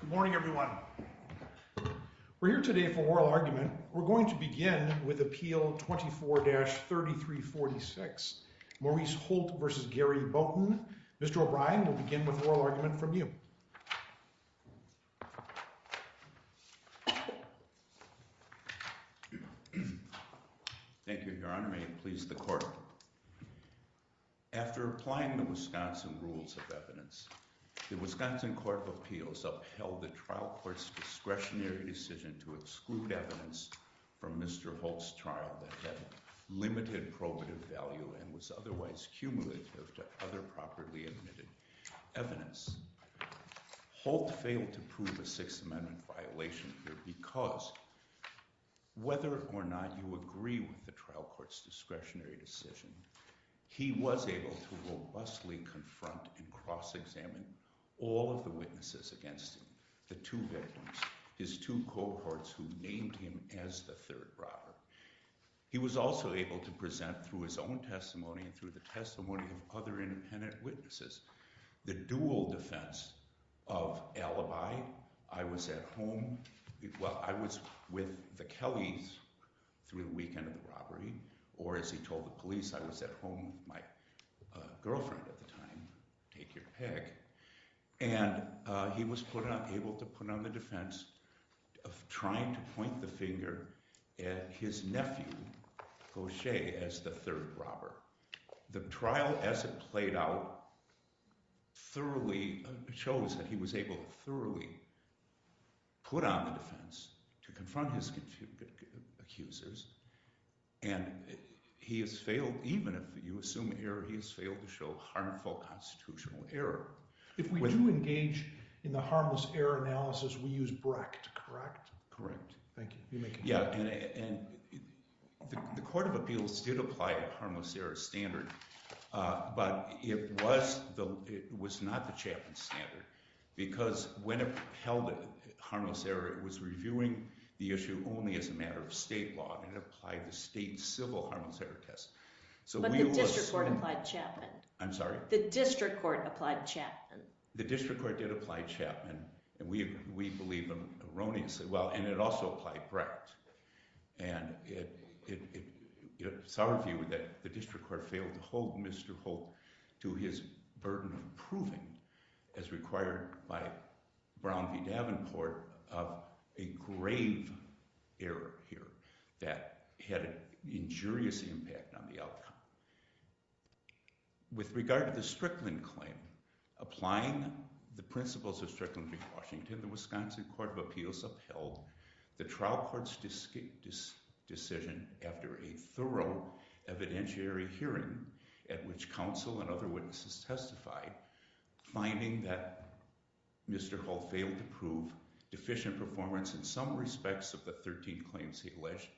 Good morning everyone. We're here today for oral argument. We're going to begin with appeal 24-3346. Maurice Holt v. Gary Boughton. Mr. O'Brien, we'll begin with oral argument from you. Thank you, your honor. May it please the court. After applying the Wisconsin rules of evidence, the Wisconsin Court of Appeals upheld the trial court's discretionary decision to exclude evidence from Mr. Holt's trial that had limited probative value and was otherwise cumulative to other properly admitted evidence. Holt failed to prove a Sixth Amendment violation here because, whether or not you agree with the trial court's discretionary decision, he was able to robustly confront and cross-examine all of the witnesses against him, the two victims, his two cohorts who named him as the third robber. He was also able to present through his own testimony and through the testimony of other independent witnesses the dual defense of alibi. I was at home, well I was with the Kellys through the weekend of the my girlfriend at the time, take your pick, and he was able to put on the defense of trying to point the finger at his nephew, Gaucher, as the third robber. The trial as it played out thoroughly shows that he was able to thoroughly put on the defense to confront his accusers, and he has failed, even if you assume error, he has failed to show harmful constitutional error. If we do engage in the harmless error analysis, we use Brecht, correct? Correct. Thank you. Yeah, and the Court of Appeals did apply a harmless error standard, but it was not the chaplain's standard because when it held harmless error, it was reviewing the issue only as a matter of state law, and it applied the state civil harmless error test. But the district court applied Chapman. I'm sorry? The district court applied Chapman. The district court did apply Chapman, and we believe him erroneously well, and it also applied Brecht, and it's our view that the district court failed to hold Mr. Holt to his burden of proving as required by Brown v. Davenport of a grave error here that had an injurious impact on the outcome. With regard to the Strickland claim, applying the principles of Strickland v. Washington, the Wisconsin Court of Appeals upheld the trial court's decision after a thorough evidentiary hearing at which counsel and other witnesses testified, finding that Mr. Holt failed to prove deficient performance in some respects of the 13 claims he alleged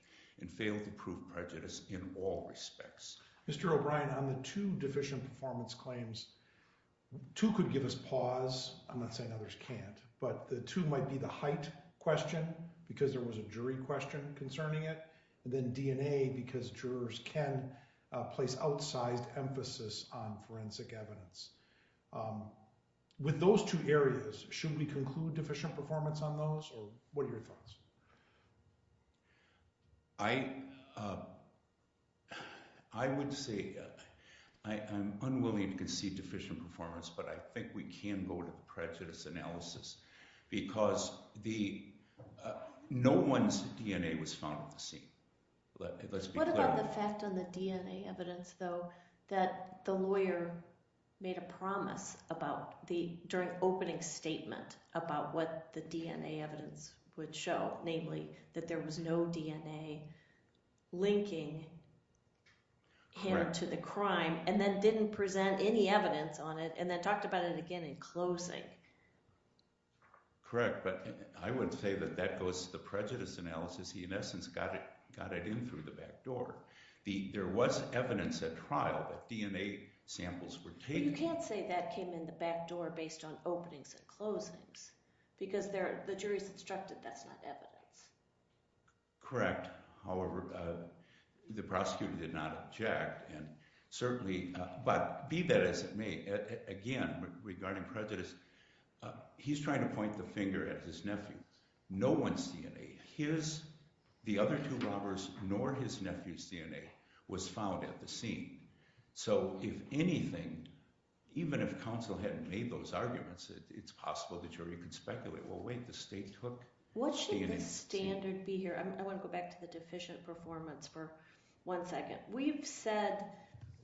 and failed to prove prejudice in all respects. Mr. O'Brien, on the two deficient performance claims, two could give us pause. I'm not saying others can't, but the two might be the height question because there was a jury question concerning it, and then DNA because jurors can place outsized emphasis on forensic evidence. With those two areas, should we conclude deficient performance on those, or what are your thoughts? I would say I'm unwilling to concede deficient performance, but I think we can go to the scene. What about the fact on the DNA evidence, though, that the lawyer made a promise during opening statement about what the DNA evidence would show, namely that there was no DNA linking him to the crime and then didn't present any evidence on it and then talked about it again in closing? Correct, but I would say that that goes to the prejudice analysis. He, in essence, got it in through the back door. There was evidence at trial that DNA samples were taken. You can't say that came in the back door based on openings and closings because the jury's instructed that's not evidence. Correct. However, the prosecutor did not object and certainly, but be that as it may, again regarding prejudice, he's trying to point the finger at his nephew. No one's DNA. His, the other two robbers, nor his nephew's DNA was found at the scene. So, if anything, even if counsel hadn't made those arguments, it's possible the jury could speculate, well, wait, the state took the DNA. What should the standard be here? I want to go back to the deficient performance for one second. We've said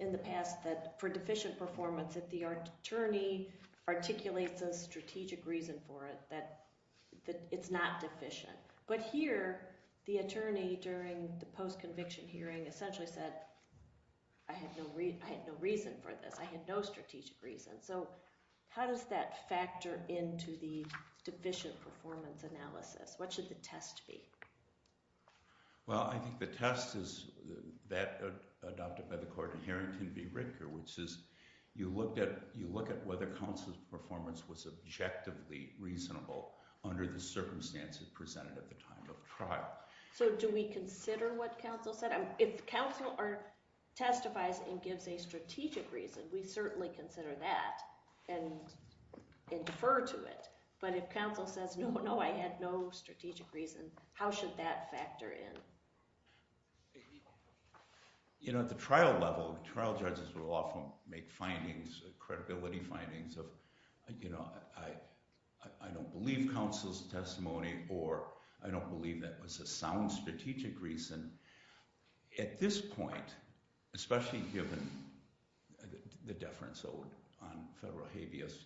in the past that for deficient performance, if the attorney articulates a strategic reason for it, that it's not deficient. But here, the attorney during the post-conviction hearing essentially said, I had no reason for this. I had no strategic reason. So, how does that factor into the deficient performance analysis? What should the test be? Well, I think the test is that adopted by the court in Harrington v. Ritker, which is you look at whether counsel's performance was objectively reasonable under the circumstances presented at the time of trial. So, do we consider what counsel said? If counsel testifies and gives a strategic reason, we certainly consider that and defer to it. But if counsel says, no, no, I had no strategic reason, how should that factor in? You know, at the trial level, trial judges will often make findings, credibility findings of, you know, I don't believe counsel's testimony or I don't believe that was a sound strategic reason. At this point, especially given the deference on federal habeas,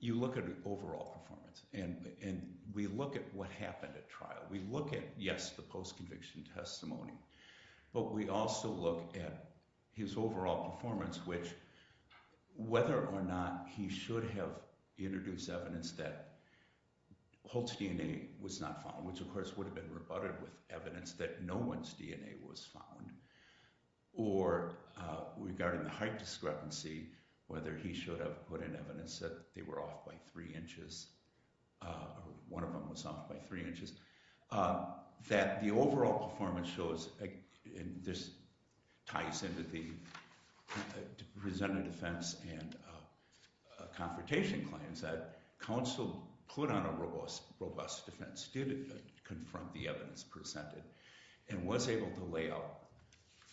you look at overall performance. And we look at what happened at trial. We look at, yes, the post-conviction testimony. But we also look at his overall performance, which whether or not he should have introduced evidence that Holt's DNA was not found, which of course would have been rebutted with evidence that no one's DNA was found, or regarding the height discrepancy, whether he should have put in evidence that they were off by three inches, or one of them was off by three inches, that the overall performance shows, and this ties into the presented defense and confrontation claims, that counsel put on a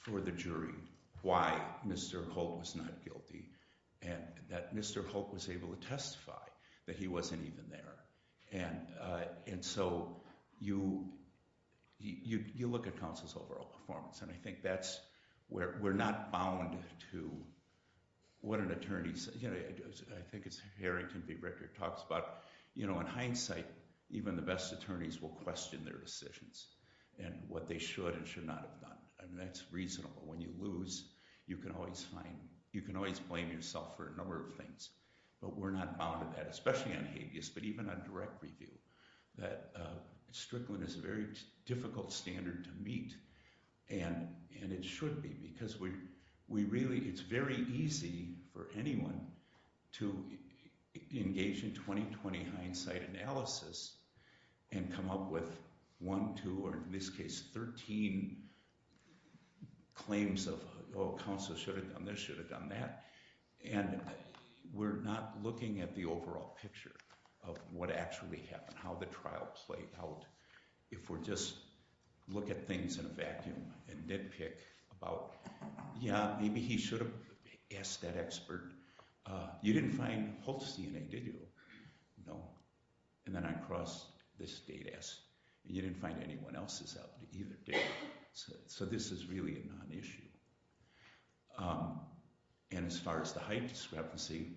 for the jury why Mr. Holt was not guilty, and that Mr. Holt was able to testify that he wasn't even there. And so you look at counsel's overall performance, and I think that's where we're not bound to what an attorney, you know, I think it's Harrington v. Ritter talks about, you know, in hindsight, even the best attorneys will question their decisions and what they should not have done, and that's reasonable. When you lose, you can always find, you can always blame yourself for a number of things, but we're not bound to that, especially on habeas, but even on direct review, that Strickland is a very difficult standard to meet, and it should be, because we really, it's very easy for anyone to engage in 20-20 hindsight analysis and come up with one, two, or in this case, 13 claims of, oh, counsel should have done this, should have done that, and we're not looking at the overall picture of what actually happened, how the trial played out, if we're just look at things in a vacuum and nitpick about, yeah, maybe he should ask that expert. You didn't find Holt's DNA, did you? No, and then I crossed this data, and you didn't find anyone else's out there either, did you? So this is really a non-issue, and as far as the height discrepancy,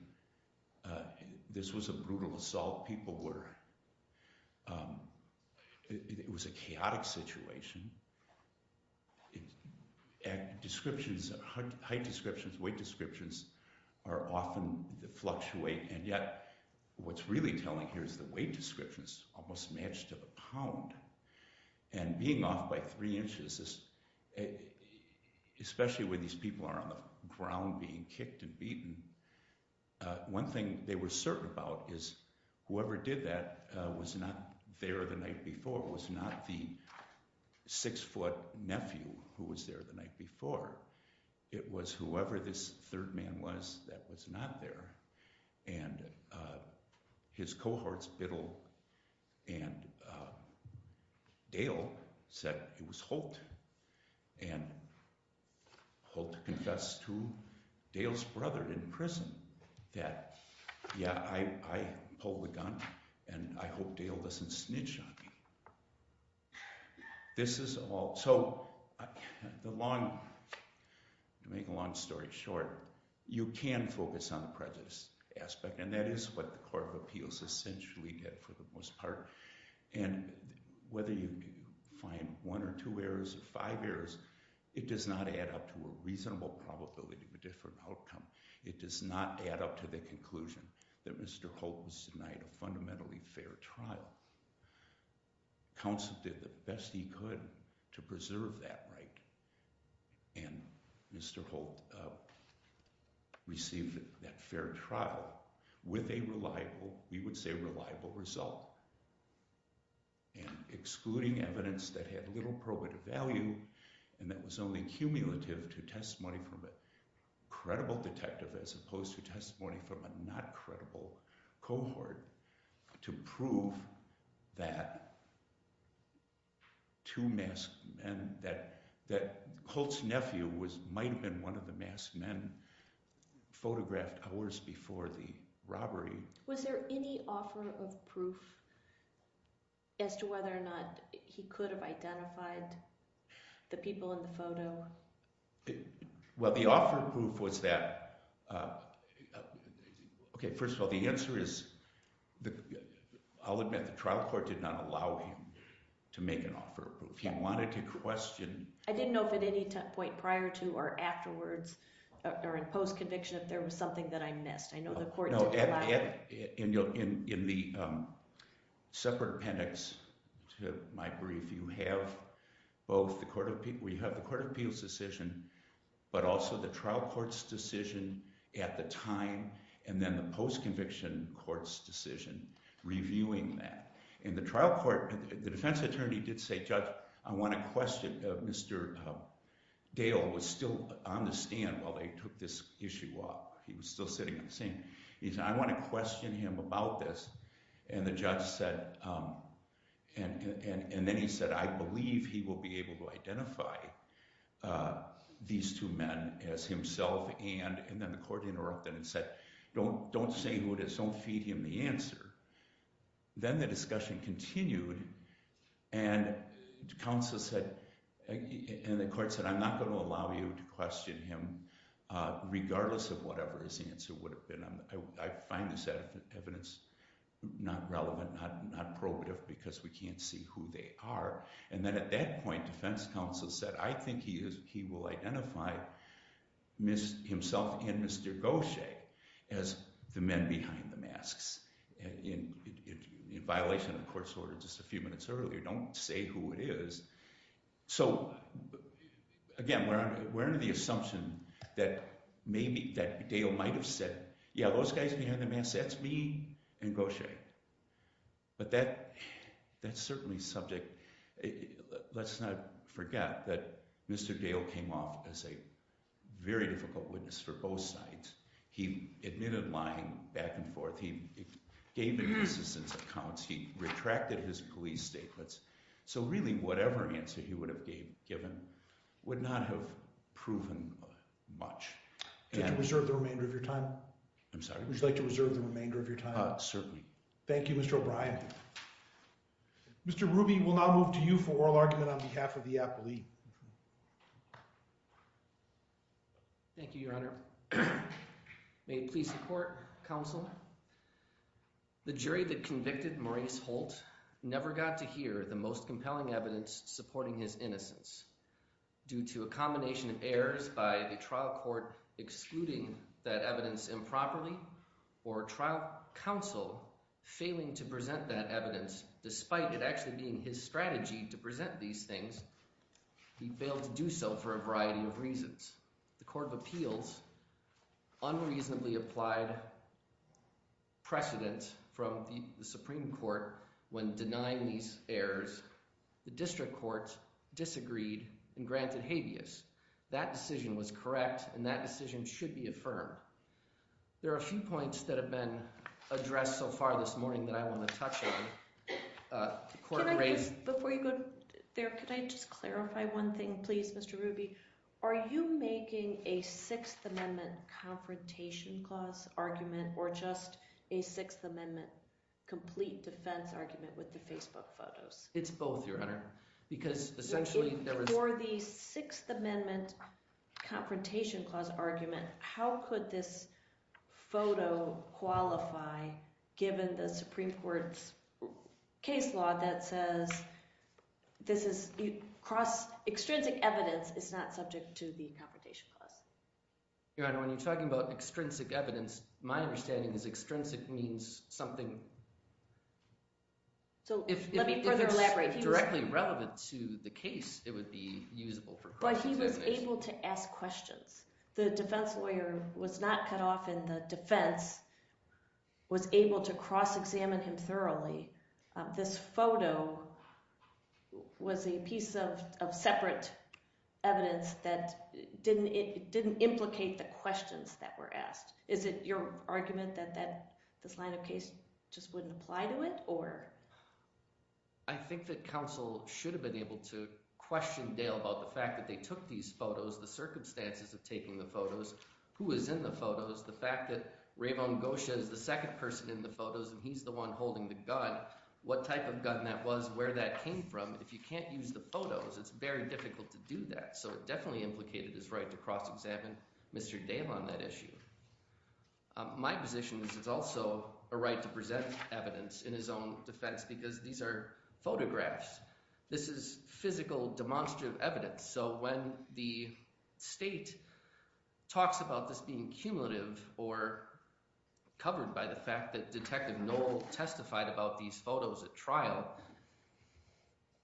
this was a brutal assault. People were, it was a chaotic situation. Descriptions, height descriptions, weight descriptions are often the fluctuate, and yet what's really telling here is the weight descriptions almost match to the pound, and being off by three inches, especially when these people are on the ground being kicked and beaten, one thing they were certain about is whoever did that was not there the night before, was not the six-foot nephew who was there the night before. It was whoever this third man was that was not there, and his cohorts, Biddle and Dale said it was Holt, and Holt confessed to Dale's brother in prison that, yeah, I pulled the gun, and I hope Dale doesn't snitch on me. This is all, so the long, to make a long story short, you can focus on the prejudice aspect, and that is what the Court of Appeals essentially did for the most part, and whether you find one or two errors or five errors, it does not add up to a reasonable probability of a different outcome. It does not add up to the conclusion that Mr. Holt was denied a fundamentally fair trial. Counsel did the best he could to preserve that right, and Mr. Holt received that fair trial with a reliable, we would say, reliable result, and excluding evidence that had little probative value and that was only cumulative to testimony from a credible detective as opposed to testimony from a not credible cohort to prove that that two masked men, that Holt's nephew was, might have been one of the masked men photographed hours before the robbery. Was there any offer of proof as to whether or not he could have identified the people in the photo? Well, the offer of proof was that, uh, okay, first of all, the answer is, I'll admit the trial court did not allow him to make an offer of proof. He wanted to question. I didn't know if at any point prior to or afterwards or in post-conviction if there was something that I missed. I know the court did not. In the separate appendix to my brief, you have both the Court of, we have the Court of Appeals decision, but also the trial court's decision at the time, and then the post-conviction court's decision reviewing that. In the trial court, the defense attorney did say, Judge, I want to question, Mr. Dale was still on the stand while they took this issue up. He was still sitting on the scene. He said, I want to question him about this, and the judge said, and then he said, I believe he will be able to identify these two men as himself, and then the court interrupted and said, don't say who it is. Don't feed him the answer. Then the discussion continued, and counsel said, and the court said, I'm not going to allow you to question him regardless of whatever his answer would have been. I find this evidence not relevant, not probative, because we can't see who they are, and then at that point, defense counsel said, I think he will identify himself and Mr. Gaucher as the men behind the masks, in violation of the court's order just a few minutes earlier. Don't say who it is. So, again, we're under the assumption that maybe, that Dale might have said, yeah, those guys behind the masks, that's me and Gaucher, but that's certainly subject. Let's not forget that Mr. Dale came off as a very difficult witness for both sides. He admitted lying back and forth. He gave in his assistant's accounts. He retracted his police statements. So, really, whatever answer he would have given would not have proven much. Would you like to reserve the remainder of your time? I'm sorry? Would you like to reserve the remainder of your time? Certainly. Thank you, Mr. O'Brien. Mr. Ruby, we'll now move to you for oral argument on behalf of the appellee. Thank you, Your Honor. May it please the court, counsel. The jury that convicted Maurice Holt never got to hear the most compelling evidence supporting his innocence. Due to a combination of errors by the trial court excluding that evidence improperly or trial counsel failing to present that evidence despite it actually being his strategy to present these things, he failed to do so for a variety of reasons. The Court of Appeals unreasonably applied precedent from the Supreme Court when denying these errors. The district court disagreed and granted habeas. That decision was correct and that decision should be affirmed. There are a few points that have been addressed so far this morning that I want to touch on. Before you go there, could I just clarify one thing, please, Mr. Ruby? Are you making a Sixth Amendment confrontation clause argument or just a Sixth Amendment complete defense argument with the Facebook photos? It's both, Your Honor. For the Sixth Amendment confrontation clause argument, how could this photo qualify given the Supreme Court's case law that says this is cross-extrinsic evidence is not subject to the confrontation clause? Your Honor, when you're talking about extrinsic evidence, my understanding is extrinsic means something... If it's directly relevant to the case, it would be usable for cross-examination. But he was able to ask questions. The defense lawyer was not cut off in the defense, was able to cross-examine him thoroughly. This photo was a piece of separate evidence that didn't implicate the questions that were asked. Is it your argument that this line of case just wouldn't apply to it? I think that counsel should have been able to question Dale about the fact that they took these photos, the circumstances of taking the photos, who was in the photos, the fact that Rayvon Gosha is the second person in the photos and he's the one holding the gun, what type of gun that was, where that came from. If you can't use the photos, it's very difficult to do that. So it definitely implicated his right to cross-examine Mr. Dale on that issue. My position is it's also a right to present evidence in his own defense because these are photographs. This is physical demonstrative evidence. So when the state talks about this being cumulative or covered by the fact that Detective Knoll testified about these photos at trial,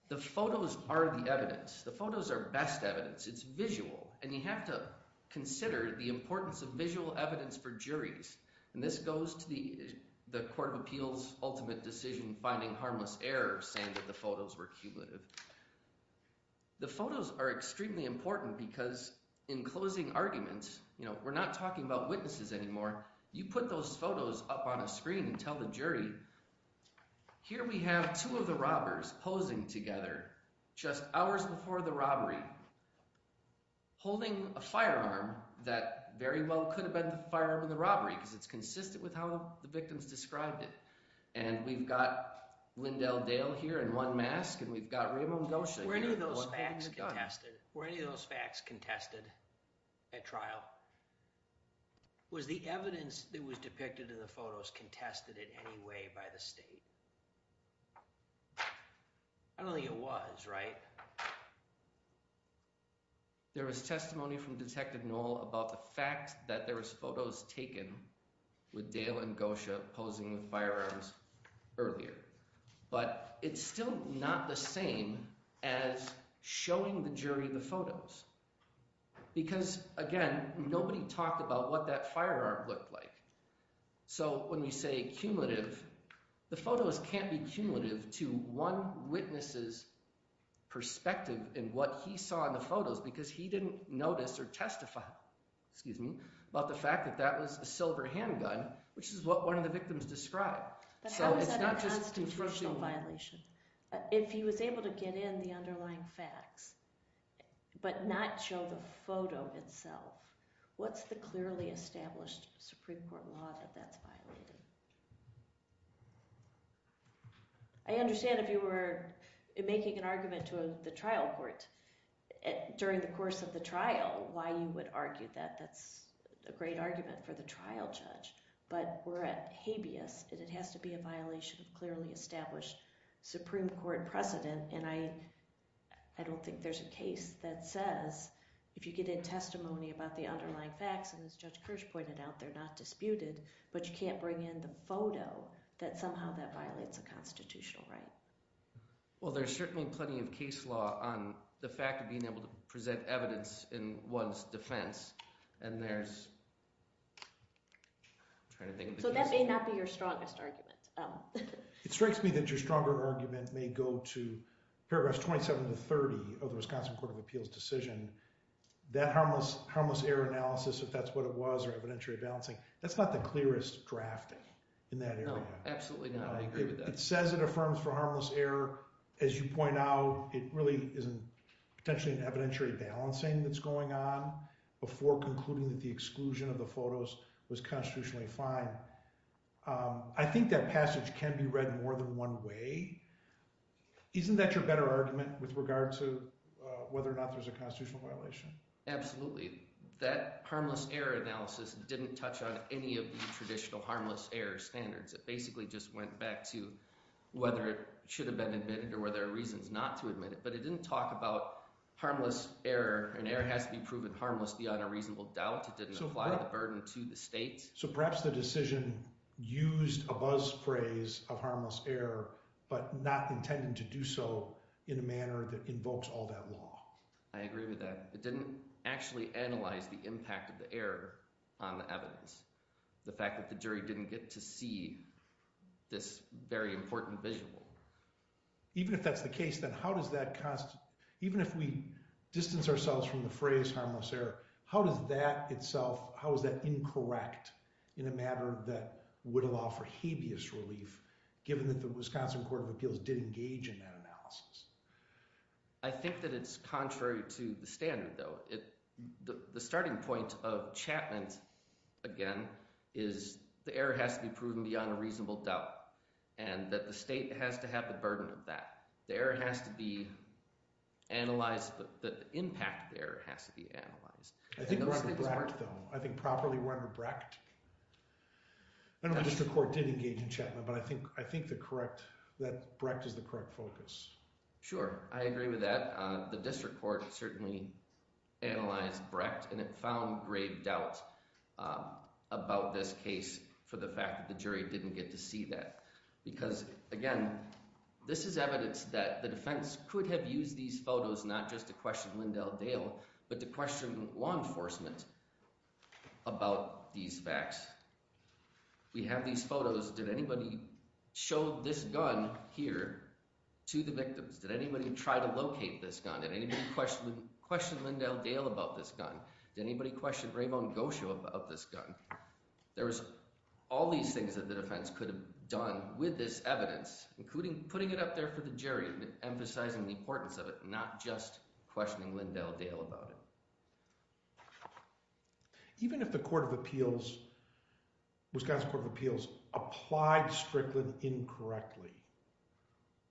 the photos are the evidence. The photos are best evidence. It's visual. And you have to consider the importance of visual evidence for juries. And this goes to the Court of Appeals ultimate decision finding harmless error saying that the photos were cumulative. The photos are extremely important because in closing arguments, you know, we're not talking about witnesses anymore. You put those photos up on a screen and tell the jury. Here we have two of the robbers posing together just hours before the robbery, holding a firearm that very well could have been the firearm in the robbery because it's consistent with how the victims described it. And we've got Lyndell Dale here in one mask and we've got Rayvon Gosha here. Were any of those facts contested at trial? Was the evidence that was depicted in the photos contested in any way by the state? I don't think it was, right? There was testimony from Detective Knoll about the fact that there was photos taken with Dale and Gosha posing with firearms earlier. But it's still not the same as showing the jury the photos because, again, nobody talked about what that firearm looked like. So when we say cumulative, the photos can't be cumulative to one witness's perspective in what he saw in the photos because he didn't notice or testify, excuse me, about the fact that that was a silver handgun, which is what one of the victims described. But how is that a constitutional violation? If he was able to get in the underlying facts but not show the photo itself, what's the clearly established Supreme Court law that that's violated? I understand if you were making an argument to the trial court during the course of the trial why you would argue that. That's a great argument for the trial judge. But we're at habeas and it has to be a violation of clearly established Supreme Court precedent. And I don't think there's a case that says if you get in testimony about the underlying facts, and as Judge Kirsch pointed out, they're not disputed, but you can't bring in the photo that somehow that violates a constitutional right. Well, there's certainly plenty of case law on the fact of being able to present evidence in one's defense. So that may not be your strongest argument. It strikes me that your stronger argument may go to paragraphs 27 to 30 of the Wisconsin Court of Appeals decision. That harmless error analysis, if that's what it was, or evidentiary balancing, that's not the clearest drafting in that area. No, absolutely not. I agree with that. It says it for harmless error. As you point out, it really isn't potentially an evidentiary balancing that's going on before concluding that the exclusion of the photos was constitutionally fine. I think that passage can be read more than one way. Isn't that your better argument with regard to whether or not there's a constitutional violation? Absolutely. That harmless error analysis didn't touch on any of the traditional harmless error standards. It basically just went back to whether it should have been admitted or whether there are reasons not to admit it. But it didn't talk about harmless error. An error has to be proven harmless beyond a reasonable doubt. It didn't apply the burden to the state. So perhaps the decision used a buzz phrase of harmless error, but not intending to do so in a manner that invokes all that law. I agree with that. It didn't actually analyze the impact of the error on the evidence. The fact that the jury didn't get to see this very important visual. Even if that's the case, then how does that cost, even if we distance ourselves from the phrase harmless error, how does that itself, how is that incorrect in a matter that would allow for habeas relief given that the Wisconsin Court of Appeals did engage in that analysis? I think that it's contrary to the standard though. The starting point of Chapman's again is the error has to be proven beyond a reasonable doubt, and that the state has to have the burden of that. The error has to be analyzed, but the impact of the error has to be analyzed. I think properly run the Brecht. I know the district court did engage in Chapman, but I think the correct, that Brecht is the correct focus. Sure, I agree with that. The about this case for the fact that the jury didn't get to see that. Because again, this is evidence that the defense could have used these photos not just to question Lindell Dale, but to question law enforcement about these facts. We have these photos. Did anybody show this gun here to the victims? Did anybody try to locate this gun? Did anybody question Lindell Dale about this gun? Did anybody question Raymond Gosho about this gun? There was all these things that the defense could have done with this evidence, including putting it up there for the jury, emphasizing the importance of it, not just questioning Lindell Dale about it. Even if the Court of Appeals, Wisconsin Court of Appeals applied Strickland incorrectly,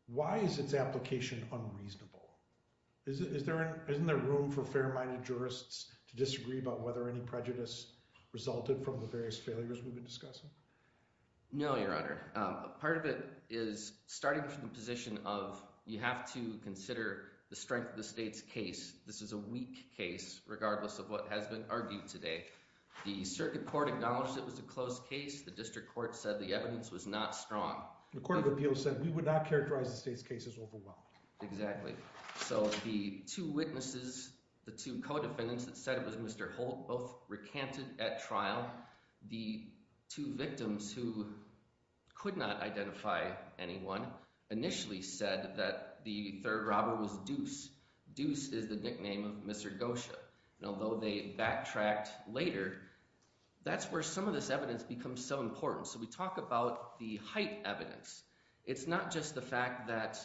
why is its application unreasonable? Is there isn't there room for fair-minded jurists to disagree about whether any prejudice resulted from the various failures we've been discussing? No, Your Honor. Part of it is starting from the position of you have to consider the strength of the state's case. This is a weak case regardless of what has been argued today. The circuit court acknowledged it was a closed case. The district court said the evidence was not strong. The Court of Appeals said we would not the state's case is overwhelmed. Exactly. So the two witnesses, the two co-defendants that said it was Mr. Holt, both recanted at trial. The two victims who could not identify anyone initially said that the third robber was Deuce. Deuce is the nickname of Mr. Gosho. And although they backtracked later, that's where some of this evidence becomes so important. So we talk about the height evidence. It's not just the fact that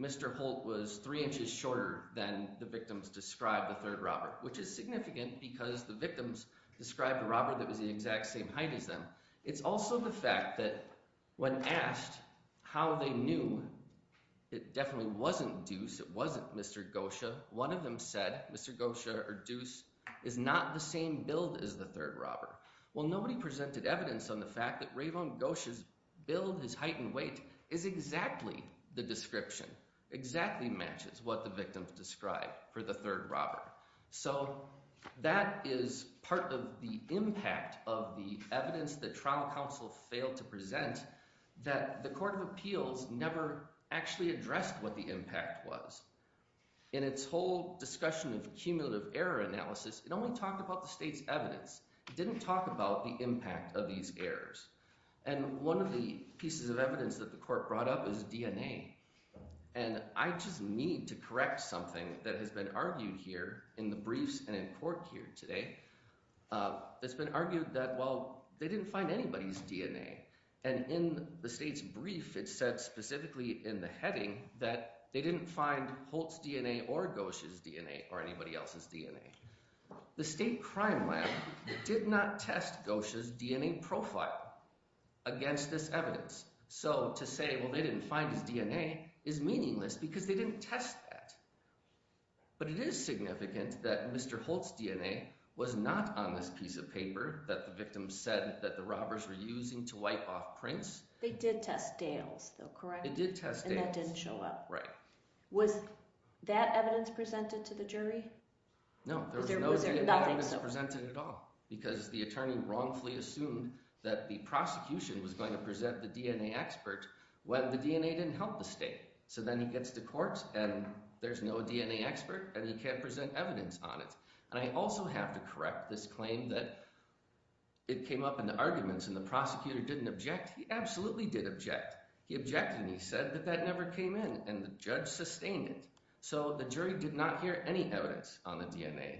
Mr. Holt was three inches shorter than the victims described the third robber, which is significant because the victims described a robber that was the exact same height as them. It's also the fact that when asked how they knew it definitely wasn't Deuce, it wasn't Mr. Gosho, one of them said Mr. Gosho or Deuce is not the same build as the third robber. Well, nobody presented evidence on the fact that Rayvon Gosho's build, his height and weight is exactly the description, exactly matches what the victims described for the third robber. So that is part of the impact of the evidence that trial counsel failed to present that the Court of Appeals never actually addressed what the impact was. In its whole discussion of cumulative error analysis, it only talked about the state's evidence. It didn't talk about the impact of these errors. And one of the pieces of evidence that the court brought up is DNA. And I just need to correct something that has been argued here in the briefs and in court here today. It's been argued that, well, they didn't find anybody's DNA. And in the state's brief, it said specifically in the heading that they didn't find Holt's DNA or Gosho's DNA or anybody else's DNA. The state crime lab did not test Gosho's DNA profile against this evidence. So to say, well, they didn't find his DNA is meaningless because they didn't test that. But it is significant that Mr. Holt's DNA was not on this piece of paper that the victims said that the robbers were using to wipe off prints. They did test Dale's though, correct? It did test Dale's. And that didn't show up. Right. Was that evidence presented to the jury? No, there was no evidence presented at all because the attorney wrongfully assumed that the prosecution was going to present the DNA expert when the DNA didn't help the state. So then he gets to court and there's no DNA expert and he can't present evidence on it. And I also have to correct this claim that it came up in the arguments and the prosecutor didn't object. He absolutely did object. He objected and he said that that never came in and the judge sustained it. So the jury did not hear any evidence on the DNA.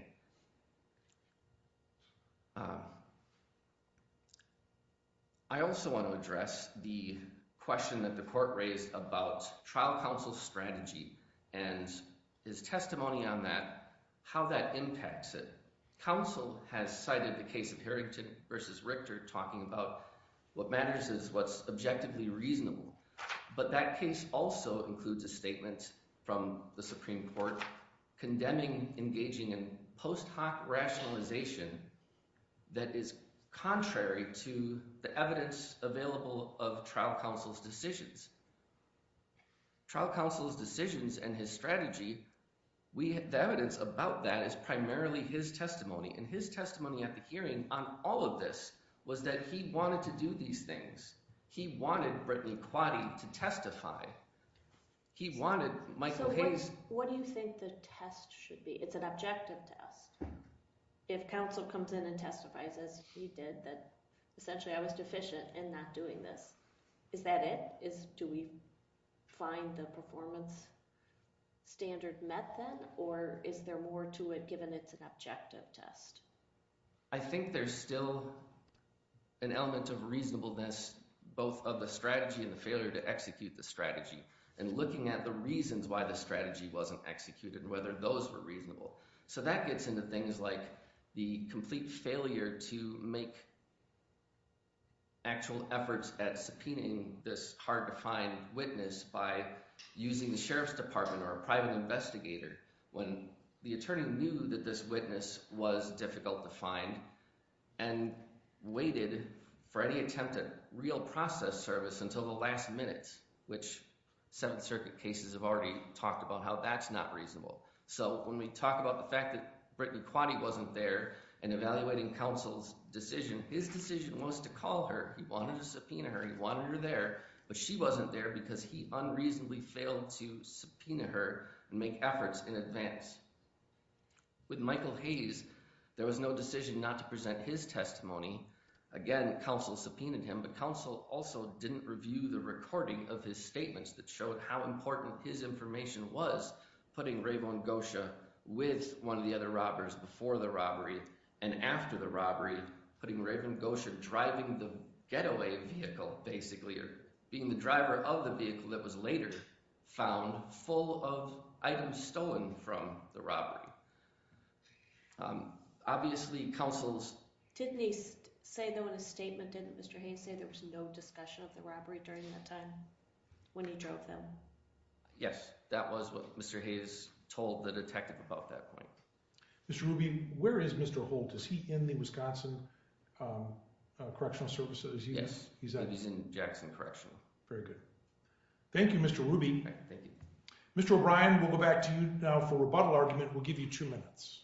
I also want to address the question that the court raised about trial counsel strategy and his testimony on that, how that impacts it. Counsel has cited the case of Harrington versus Richter talking about what matters is what's objectively reasonable. But that case also includes a statement from the Supreme Court condemning engaging in post hoc rationalization that is contrary to the evidence available of trial counsel's decisions. Trial counsel's decisions and his strategy, the evidence about that is primarily his testimony. And his testimony at the hearing on all of this was that he wanted to do these things. He wanted Brittany Quaddie to testify. He wanted Michael Hayes. What do you think the test should be? It's an objective test. If counsel comes in and testifies as he did that essentially I was deficient in not doing this, is that it? Do we find the performance standard met then or is there more to it given it's an objective test? I think there's still an element of reasonableness both of the strategy and the failure to execute the strategy and looking at the reasons why the strategy wasn't executed and whether those were reasonable. So that gets into things like the complete failure to make actual efforts at subpoenaing this hard to find witness by using the sheriff's department or a defendant and waited for any attempt at real process service until the last minute which Seventh Circuit cases have already talked about how that's not reasonable. So when we talk about the fact that Brittany Quaddie wasn't there in evaluating counsel's decision, his decision was to call her. He wanted to subpoena her. He wanted her there but she wasn't there because he unreasonably failed to subpoena her and make efforts in advance. With Michael Hayes, there was no decision not to present his testimony. Again, counsel subpoenaed him but counsel also didn't review the recording of his statements that showed how important his information was putting Raven Gosher with one of the other robbers before the robbery and after the robbery putting Raven Gosher driving the getaway vehicle basically or being the driver of the robbery. Obviously, counsel's... Didn't they say though in a statement, didn't Mr. Hayes say there was no discussion of the robbery during that time when he drove them? Yes, that was what Mr. Hayes told the detective about that point. Mr. Ruby, where is Mr. Holt? Is he in the Wisconsin Correctional Services? Yes, he's in Jackson Correctional. Very good. Thank you, Mr. Ruby. Thank you. Mr. O'Brien, we'll go back to you now for rebuttal argument. We'll give you two minutes.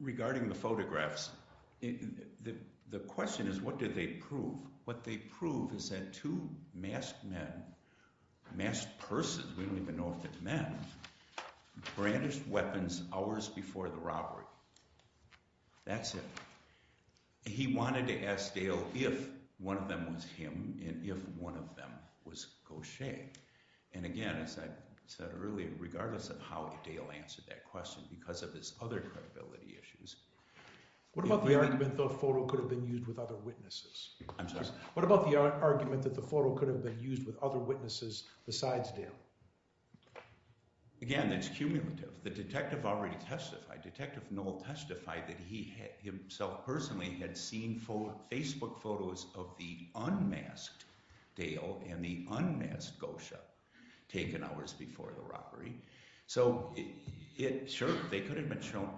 Regarding the photographs, the question is what did they prove? What they prove is that two masked men, masked persons, we don't even know if it's men, brandished weapons hours before the robbery. That's it. He wanted to ask Dale if one of them was him and if one of them was Gosher. And again, as I said earlier, regardless of how Dale answered that question because of his other credibility issues... What about the argument that the photo could have been used with other witnesses? I'm sorry? What about the argument that the photo could have been used with other witnesses? The detective Noel testified that he himself personally had seen Facebook photos of the unmasked Dale and the unmasked Gosher taken hours before the robbery. So sure, they could have been shown.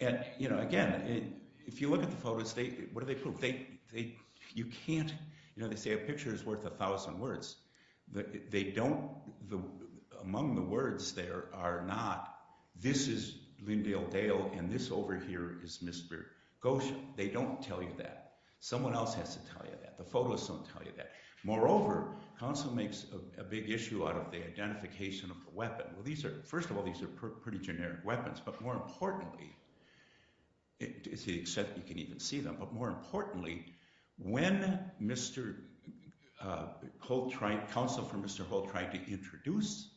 Again, if you look at the photos, what do they prove? They say a picture is worth a thousand words. Among the words there are not, this is Lyndale Dale and this over here is Mr. Gosher. They don't tell you that. Someone else has to tell you that. The photos don't tell you that. Moreover, counsel makes a big issue out of the identification of the weapon. Well, first of all, these are pretty generic weapons, but more importantly, except you can even see them, but more importantly, when counsel for Mr. Holt tried to introduce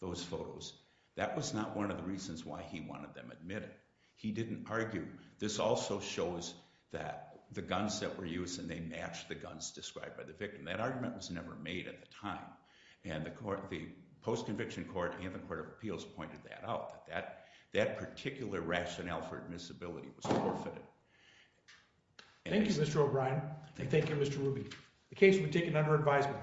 those photos, that was not one of the reasons why he wanted them admitted. He didn't argue. This also shows that the guns that were used and they matched the guns described by the victim. That argument was never made at the time, and the post-conviction court and the court of appeals pointed that out, that that particular rationale for admissibility was forfeited. Thank you, Mr. O'Brien, and thank you, Mr. Ruby. The case will be taken under advisement.